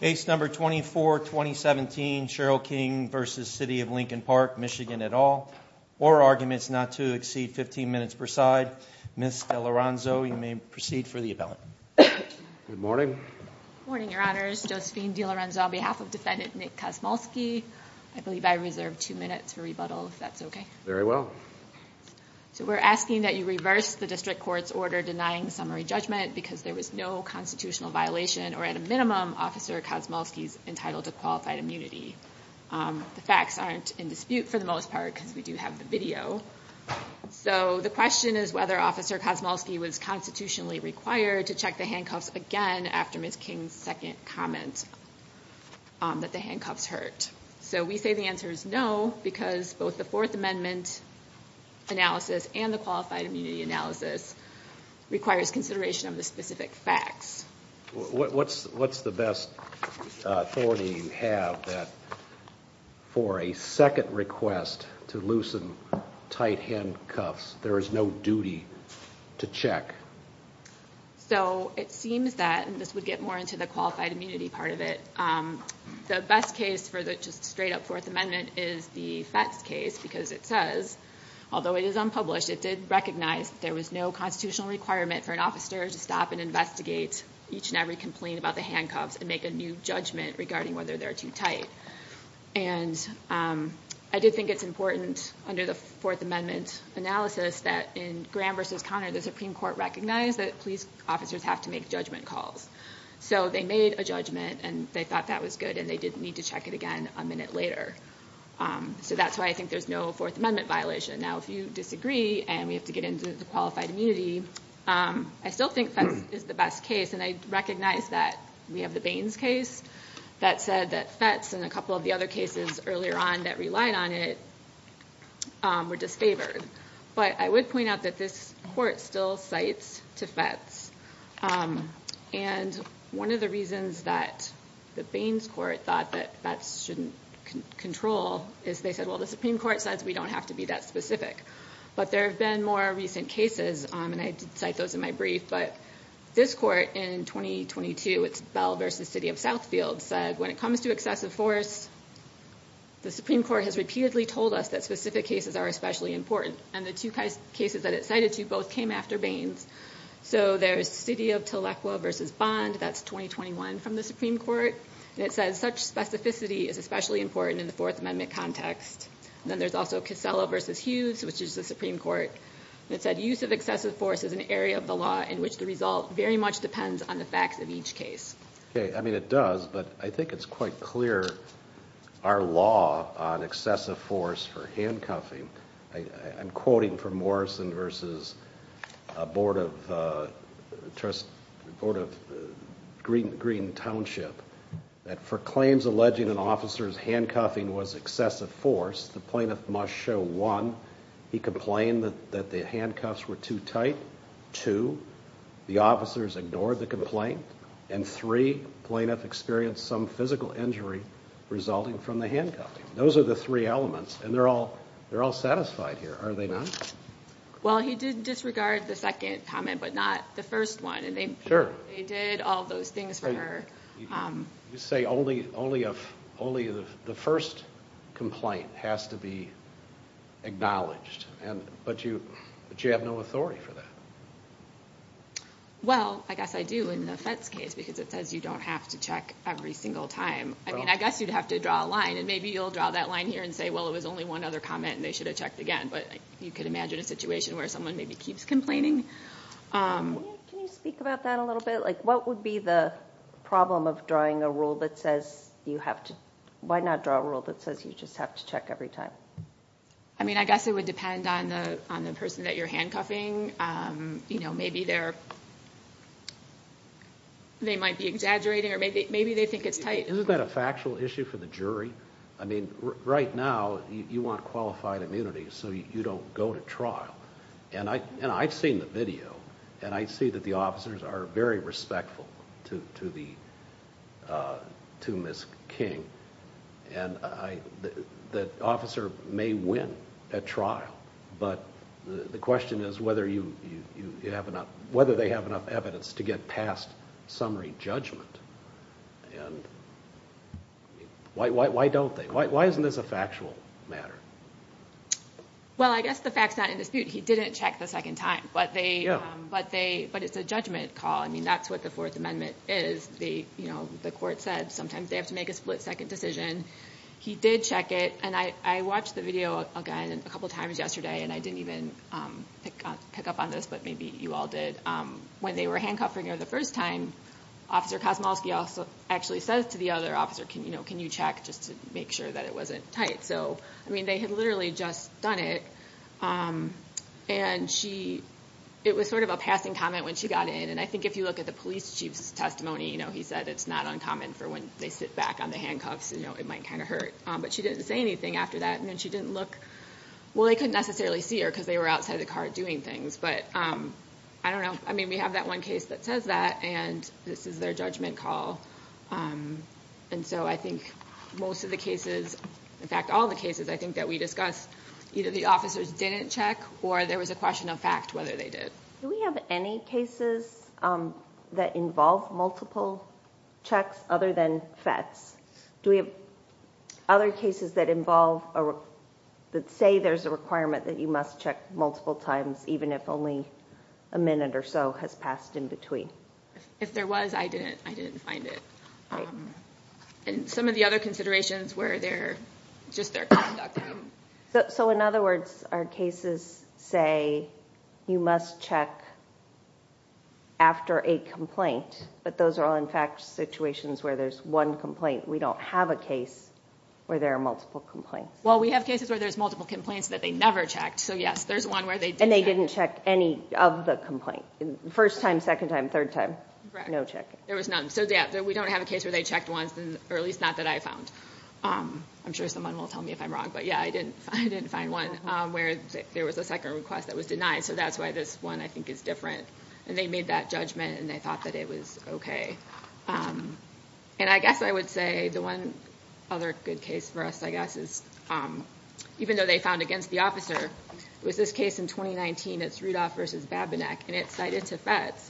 Case number 24-2017, Sherrell King v. City of Lincoln Park, MI at all, or arguments not to exceed 15 minutes per side, Ms. DeLorenzo, you may proceed for the appellant. Good morning. Good morning, Your Honors. Josephine DeLorenzo on behalf of Defendant Nick Kosmulski. I believe I reserved two minutes for rebuttal, if that's okay. Very well. So we're asking that you reverse the district court's order denying summary judgment because there was no constitutional violation, or at a minimum, Officer Kosmulski's entitled to qualified immunity. The facts aren't in dispute, for the most part, because we do have the video. So the question is whether Officer Kosmulski was constitutionally required to check the handcuffs again after Ms. King's second comment that the handcuffs hurt. So we say the answer is no because both the Fourth Amendment analysis and the qualified immunity analysis requires consideration of the specific facts. What's the best authority you have that for a second request to loosen tight handcuffs, there is no duty to check? So it seems that, and this would get more into the qualified immunity part of it, the best case for the just straight up Fourth Amendment is the FETS case because it says, although it is unpublished, it did recognize that there was no constitutional requirement for an officer to stop and investigate each and every complaint about the handcuffs and make a new judgment regarding whether they're too tight. And I did think it's important under the Fourth Amendment analysis that in Graham v. Conner, the Supreme Court recognized that police officers have to make judgment calls. So they made a judgment and they thought that was good and they didn't need to check it again a minute later. So that's why I think there's no Fourth Amendment violation. Now, if you disagree and we have to get into the qualified immunity, I still think FETS is the best case. And I recognize that we have the Baines case that said that FETS and a couple of the other cases earlier on that relied on it were disfavored. But I would point out that this court still cites to FETS. And one of the reasons that the Baines court thought that FETS shouldn't control is they said, well, the Supreme Court says we don't have to be that specific. But there have been more recent cases, and I did cite those in my brief, but this court in 2022, it's Bell v. City of Southfield said, when it comes to excessive force, the Supreme Court has repeatedly told us that specific cases are especially important. And the two cases that it cited to both came after Baines. So there's City of Telequa v. Bond, that's 2021 from the Supreme Court, and it says such specificity is especially important in the Fourth Amendment context. Then there's also Casella v. Hughes, which is the Supreme Court, and it said use of excessive force is an area of the law in which the result very much depends on the facts of each case. Okay. I mean, it does, but I think it's quite clear our law on excessive force for handcuffing, I'm quoting from Morrison v. Board of Green Township, that for claims alleging an officer's handcuffing was excessive force, the plaintiff must show one, he complained that the handcuffs were too tight, two, the officers ignored the complaint, and three, plaintiff experienced some physical injury resulting from the handcuffing. Those are the three elements, and they're all satisfied here, are they not? Well, he did disregard the second comment, but not the first one, and they did all those things for her. Sure. You say only the first complaint has to be acknowledged, but you have no authority for Well, I guess I do in the FETS case, because it says you don't have to check every single time. I mean, I guess you'd have to draw a line, and maybe you'll draw that line here and say, well, it was only one other comment, and they should have checked again, but you could imagine a situation where someone maybe keeps complaining. Can you speak about that a little bit? What would be the problem of drawing a rule that says you have to, why not draw a rule that says you just have to check every time? I mean, I guess it would depend on the person that you're handcuffing. Maybe they might be exaggerating, or maybe they think it's tight. Isn't that a factual issue for the jury? I mean, right now, you want qualified immunity, so you don't go to trial. I've seen the video, and I see that the officers are very respectful to Ms. King, and the officer may win at trial, but the question is whether they have enough evidence to get past summary judgment, and why don't they? Why isn't this a factual matter? Well, I guess the fact's not in dispute. He didn't check the second time, but it's a judgment call. I mean, that's what the Fourth Amendment is. The court said sometimes they have to make a split-second decision. He did check it, and I watched the video again a couple of times yesterday, and I didn't even pick up on this, but maybe you all did. When they were handcuffing her the first time, Officer Kosmolsky actually says to the other officer, can you check just to make sure that it wasn't tight? So, I mean, they had literally just done it, and it was sort of a passing comment when she got in, and I think if you look at the police chief's testimony, he said it's not uncommon for when they sit back on the handcuffs, it might kind of hurt, but she didn't say anything after that, and then she didn't look... Well, they couldn't necessarily see her because they were outside the car doing things, but I don't know. I mean, we have that one case that says that, and this is their judgment call, and so I think most of the cases, in fact, all the cases I think that we discussed, either the officers didn't check or there was a question of fact whether they did. Do we have any cases that involve multiple checks other than FETs? Do we have other cases that say there's a requirement that you must check multiple times even if only a minute or so has passed in between? If there was, I didn't find it, and some of the other considerations were just their conduct. So in other words, our cases say you must check after a complaint, but those are all, perhaps, situations where there's one complaint. We don't have a case where there are multiple complaints. Well, we have cases where there's multiple complaints that they never checked, so yes, there's one where they did check. And they didn't check any of the complaint, first time, second time, third time? Correct. No checking. There was none. So yeah, we don't have a case where they checked once, or at least not that I found. I'm sure someone will tell me if I'm wrong, but yeah, I didn't find one where there was a second request that was denied, so that's why this one, I think, is different, and they made that judgment, and they thought that it was okay. And I guess I would say the one other good case for us, I guess, is even though they found against the officer, it was this case in 2019, it's Rudolph versus Babinec, and it's cited to FETS.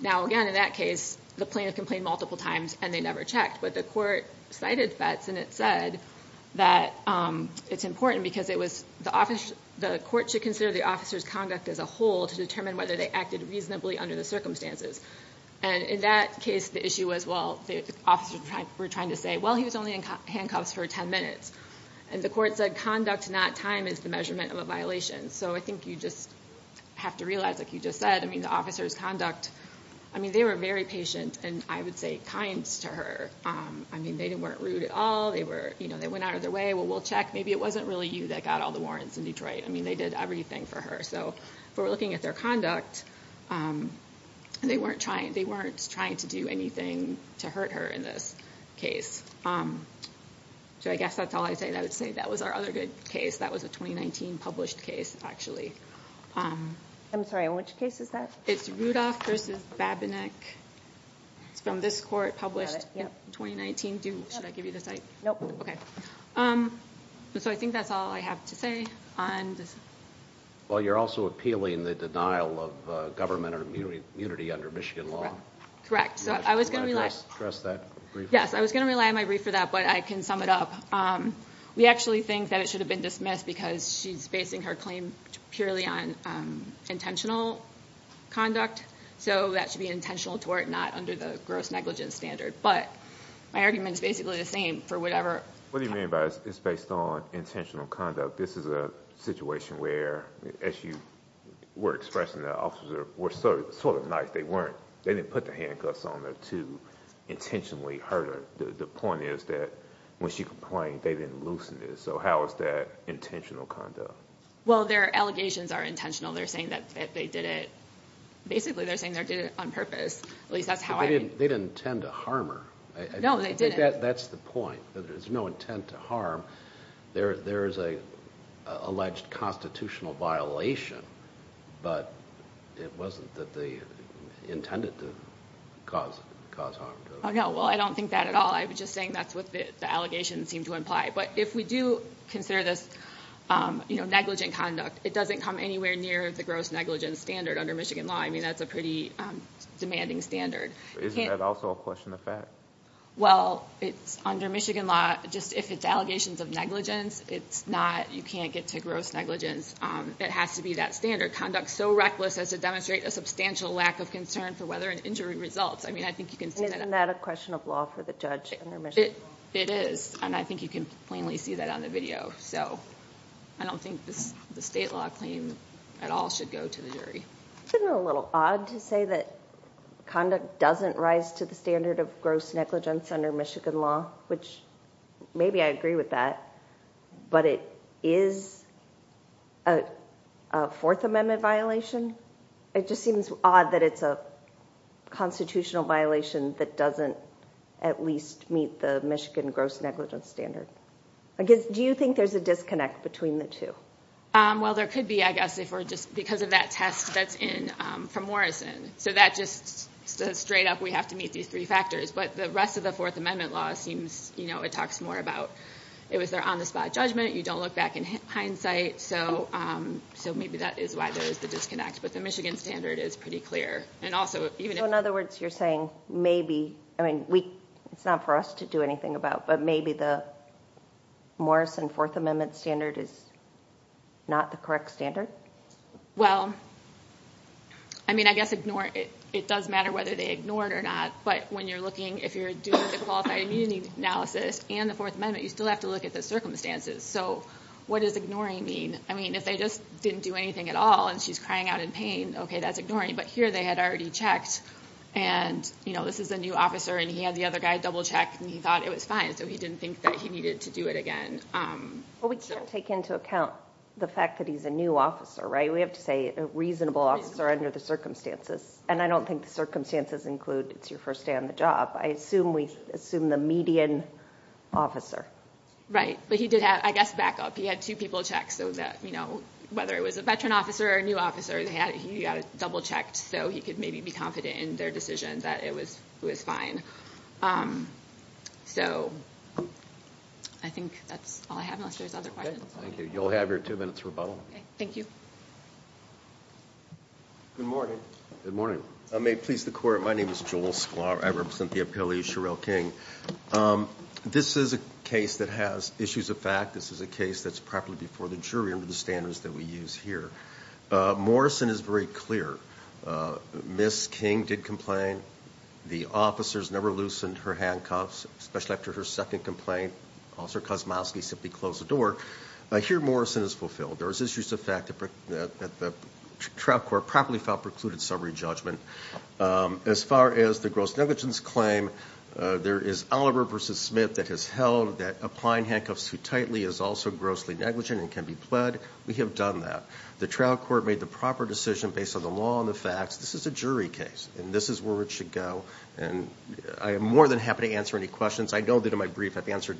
Now, again, in that case, the plaintiff complained multiple times, and they never checked, but the court cited FETS, and it said that it's important because the court should consider the officer's conduct as a whole to determine whether they acted reasonably under the circumstances. And in that case, the issue was, well, the officer were trying to say, well, he was only in handcuffs for 10 minutes, and the court said conduct, not time, is the measurement of a violation. So I think you just have to realize, like you just said, I mean, the officer's conduct, I mean, they were very patient, and I would say kind to her. I mean, they weren't rude at all. They were, you know, they went out of their way, well, we'll check. Maybe it wasn't really you that got all the warrants in Detroit. I mean, they did everything for her. So if we're looking at their conduct, they weren't trying to do anything to hurt her in this case. So I guess that's all I'd say. I would say that was our other good case. That was a 2019 published case, actually. I'm sorry. Which case is that? It's Rudolph v. Babinec. It's from this court, published in 2019. Do you, should I give you the site? Nope. Okay. So I think that's all I have to say on this. Well, you're also appealing the denial of government immunity under Michigan law. So I was going to rely on my brief for that, but I can sum it up. We actually think that it should have been dismissed because she's basing her claim purely on intentional conduct. So that should be an intentional tort, not under the gross negligence standard. But my argument is basically the same for whatever. What do you mean by it's based on intentional conduct? This is a situation where, as you were expressing, the officers were sort of nice. They didn't put the handcuffs on her to intentionally hurt her. The point is that when she complained, they didn't loosen it. So how is that intentional conduct? Well, their allegations are intentional. They're saying that they did it, basically they're saying they did it on purpose. At least that's how I- They didn't intend to harm her. No, they didn't. That's the point. There's no intent to harm. There's an alleged constitutional violation, but it wasn't that they intended to cause harm to her. No, well, I don't think that at all. I'm just saying that's what the allegations seem to imply. But if we do consider this negligent conduct, it doesn't come anywhere near the gross negligence standard under Michigan law. I mean, that's a pretty demanding standard. Isn't that also a question of fact? Well, under Michigan law, just if it's allegations of negligence, you can't get to gross negligence. It has to be that standard. Conduct so reckless as to demonstrate a substantial lack of concern for whether an injury results. I mean, I think you can see that- Isn't that a question of law for the judge under Michigan law? It is, and I think you can plainly see that on the video. So I don't think the state law claim at all should go to the jury. Isn't it a little odd to say that conduct doesn't rise to the standard of gross negligence under Michigan law, which maybe I agree with that, but it is a Fourth Amendment violation? It just seems odd that it's a constitutional violation that doesn't at least meet the Michigan gross negligence standard. Do you think there's a disconnect between the two? Well, there could be, I guess, if we're just... Because of that test that's in for Morrison. So that just says straight up we have to meet these three factors, but the rest of the Fourth Amendment law seems... It talks more about... It was their on-the-spot judgment. You don't look back in hindsight. So maybe that is why there is the disconnect, but the Michigan standard is pretty clear. And also, even if- So in other words, you're saying maybe... I mean, it's not for us to do anything about, but maybe the Morrison Fourth Amendment standard is not the correct standard? Well, I mean, I guess it does matter whether they ignored or not, but when you're looking, if you're doing the qualified immunity analysis and the Fourth Amendment, you still have to look at the circumstances. So what does ignoring mean? I mean, if they just didn't do anything at all and she's crying out in pain, okay, that's ignoring. But here they had already checked and this is a new officer and he had the other guy double-checked and he thought it was fine, so he didn't think that he needed to do it again. Well, we can't take into account the fact that he's a new officer, right? We have to say a reasonable officer under the circumstances. And I don't think the circumstances include it's your first day on the job. I assume we assume the median officer. Right. But he did have, I guess, backup. He had two people check so that whether it was a veteran officer or a new officer, he got it double-checked so he could maybe be confident in their decision that it was fine. So, I think that's all I have unless there's other questions. Thank you. You'll have your two minutes rebuttal. Okay. Thank you. Good morning. Good morning. May it please the Court, my name is Joel Sklar, I represent the appellee, Sherrell King. This is a case that has issues of fact. This is a case that's properly before the jury under the standards that we use here. Morrison is very clear. Miss King did complain. The officers never loosened her handcuffs, especially after her second complaint. Officer Kosmowski simply closed the door. Here Morrison is fulfilled. There is issues of fact that the trial court properly filed precluded summary judgment. As far as the gross negligence claim, there is Oliver v. Smith that has held that applying handcuffs too tightly is also grossly negligent and can be pled. We have done that. The trial court made the proper decision based on the law and the facts. This is a jury case, and this is where it should go, and I am more than happy to answer any questions. I know that in my brief I've answered,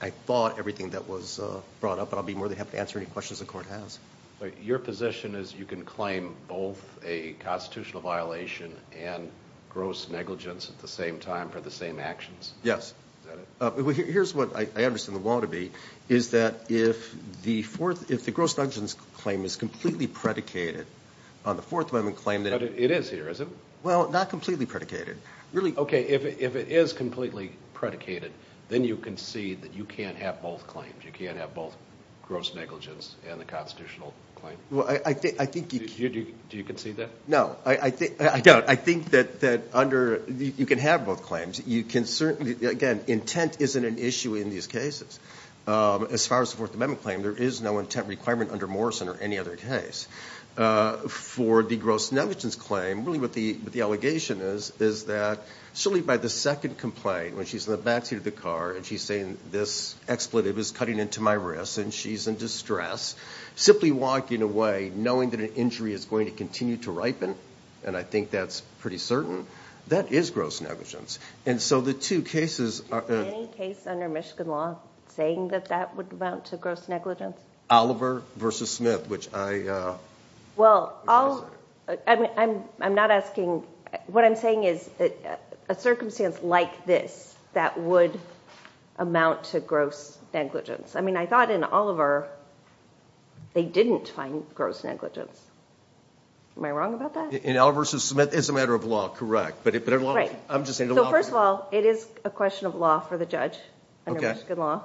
I thought, everything that was brought up, but I'll be more than happy to answer any questions the court has. Your position is you can claim both a constitutional violation and gross negligence at the same time for the same actions? Yes. Is that it? Here's what I understand the law to be, is that if the gross negligence claim is completely predicated on the Fourth Amendment claim that... It is here, is it? Well, not completely predicated. Really? Okay. If it is completely predicated, then you concede that you can't have both claims, you can't have both gross negligence and the constitutional claim? I think... Do you concede that? No. I don't. I think that under... you can have both claims. You can certainly... again, intent isn't an issue in these cases. As far as the Fourth Amendment claim, there is no intent requirement under Morrison or any other case. For the gross negligence claim, really what the allegation is, is that surely by the second complaint when she's in the backseat of the car and she's saying this expletive is cutting into my wrist and she's in distress, simply walking away knowing that an injury is going to continue to ripen, and I think that's pretty certain, that is gross negligence. The two cases... Any case under Michigan law saying that that would amount to gross negligence? Oliver v. Smith, which I... Well, I'm not asking... what I'm saying is a circumstance like this that would amount to gross negligence. I mean, I thought in Oliver they didn't find gross negligence. Am I wrong about that? In Oliver v. Smith, it's a matter of law, correct. But... I'm just saying... So first of all, it is a question of law for the judge under Michigan law.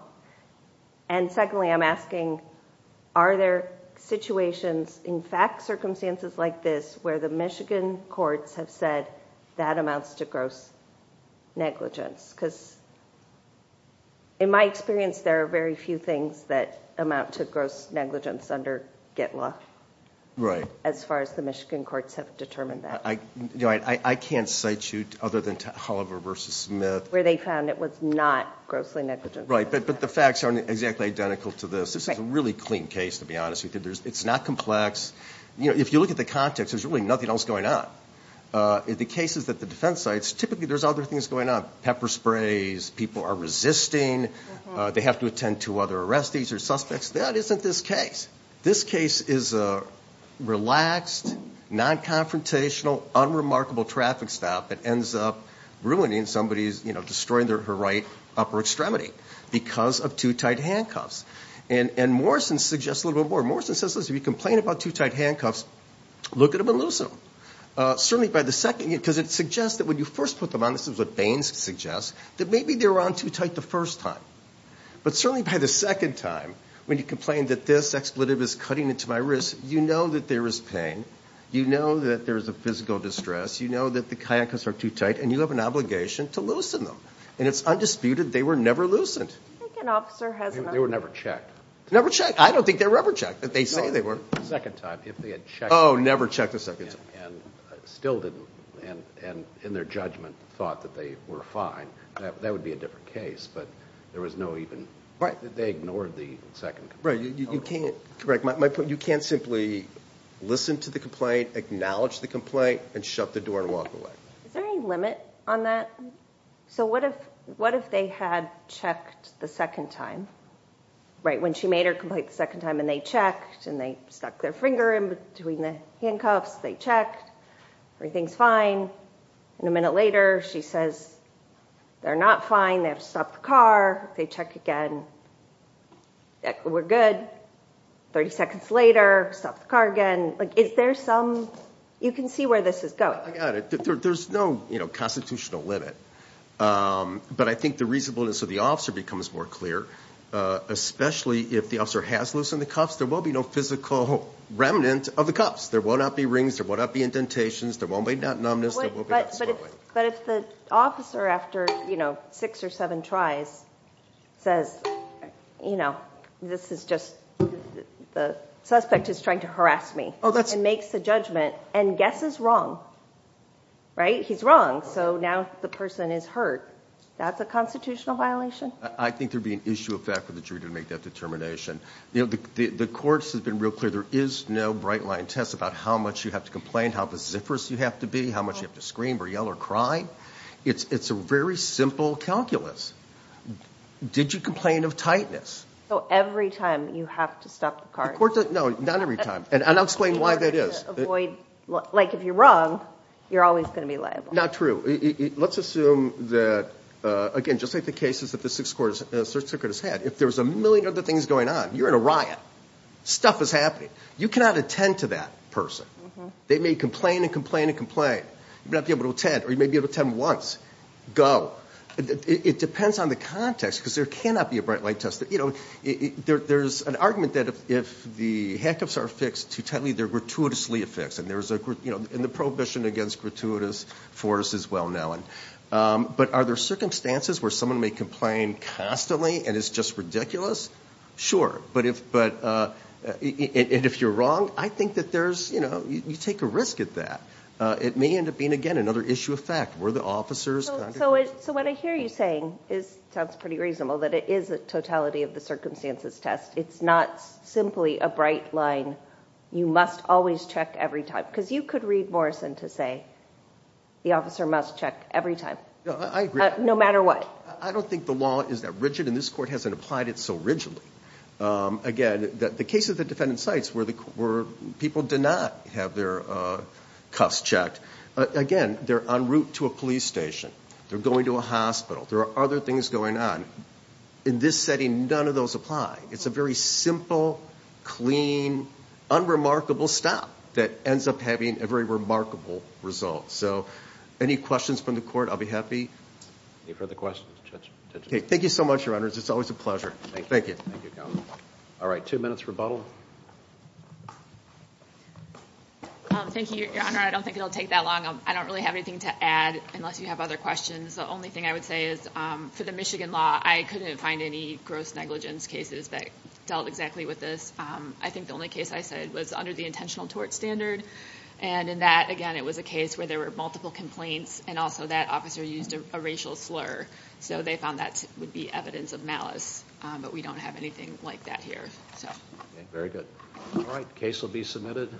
And secondly, I'm asking, are there situations, in fact, circumstances like this where the Michigan courts have said that amounts to gross negligence? Because in my experience, there are very few things that amount to gross negligence under Get Law...... as far as the Michigan courts have determined that. I can't cite you other than to Oliver v. Smith... Where they found it was not grossly negligent. Right, but the facts aren't exactly identical to this. This is a really clean case, to be honest with you. It's not complex. If you look at the context, there's really nothing else going on. In the cases at the defense sites, typically there's other things going on. Pepper sprays, people are resisting, they have to attend to other arrestees or suspects. That isn't this case. This case is a relaxed, non-confrontational, unremarkable traffic stop that ends up ruining somebody's, you know, destroying her right upper extremity because of too tight handcuffs. And Morrison suggests a little bit more. Morrison says, listen, if you complain about too tight handcuffs, look at them and loosen them. Certainly by the second... because it suggests that when you first put them on, this is what Baines suggests, that maybe they were on too tight the first time. But certainly by the second time, when you complain that this expletive is cutting into my wrist, you know that there is pain, you know that there is a physical distress, you know that the handcuffs are too tight, and you have an obligation to loosen them. And it's undisputed they were never loosened. I think an officer has... They were never checked. Never checked. I don't think they were ever checked. They say they were. The second time, if they had checked... Oh, never checked the second time. And still didn't. And in their judgment thought that they were fine. That would be a different case. But there was no even... Right. They ignored the second... Right. You can't... correct. You can't simply listen to the complaint, acknowledge the complaint, and shut the door and walk away. Is there any limit on that? So what if they had checked the second time? Right, when she made her complaint the second time, and they checked, and they stuck their finger in between the handcuffs, they checked, everything's fine. And a minute later, she says, they're not fine, they have to stop the car, they check again. We're good. Thirty seconds later, stop the car again. Is there some... you can see where this is going. I got it. There's no constitutional limit. But I think the reasonableness of the officer becomes more clear, especially if the officer has loosened the cuffs. There will be no physical remnant of the cuffs. There will not be rings. There will not be indentations. There won't be numbness. There will be... You know, this is just... the suspect is trying to harass me. Oh, that's... And makes the judgment, and guesses wrong. Right? He's wrong, so now the person is hurt. That's a constitutional violation? I think there would be an issue of fact for the jury to make that determination. The courts have been real clear. There is no bright-line test about how much you have to complain, how vociferous you have to be, how much you have to scream or yell or cry. It's a very simple calculus. Did you complain of tightness? Every time you have to stop the cart. No, not every time. And I'll explain why that is. Like, if you're wrong, you're always going to be liable. Not true. Let's assume that, again, just like the cases that the Sixth Court has had, if there's a million other things going on, you're in a riot. Stuff is happening. You cannot attend to that person. They may complain and complain and complain. You may not be able to attend, or you may be able to attend once. Go. It depends on the context, because there cannot be a bright-line test. You know, there's an argument that if the handcuffs are fixed too tightly, they're gratuitously a fix. And the prohibition against gratuitous force is well-known. But are there circumstances where someone may complain constantly and it's just ridiculous? Sure. But if you're wrong, I think that there's, you know, you take a risk at that. It may end up being, again, another issue of fact. Were the officer's conduct? So what I hear you saying sounds pretty reasonable, that it is a totality-of-the-circumstances test. It's not simply a bright line, you must always check every time. Because you could read Morrison to say the officer must check every time. I agree. No matter what. I don't think the law is that rigid, and this Court hasn't applied it so rigidly. Again, the case of the defendant's sites where people did not have their cuffs checked, again, they're en route to a police station, they're going to a hospital, there are other things going on. In this setting, none of those apply. It's a very simple, clean, unremarkable stop that ends up having a very remarkable result. So any questions from the Court? I'll be happy. Any further questions? Okay. Thank you so much, Your Honors. It's always a pleasure. Thank you. Thank you, Counsel. All right. Two minutes rebuttal. Thank you, Your Honor. I don't think it will take that long. I don't really have anything to add unless you have other questions. The only thing I would say is for the Michigan law, I couldn't find any gross negligence cases that dealt exactly with this. I think the only case I said was under the intentional tort standard. And in that, again, it was a case where there were multiple complaints, and also that officer used a racial slur. So they found that would be evidence of malice. But we don't have anything like that here. Okay. Very good. All right. Case will be submitted.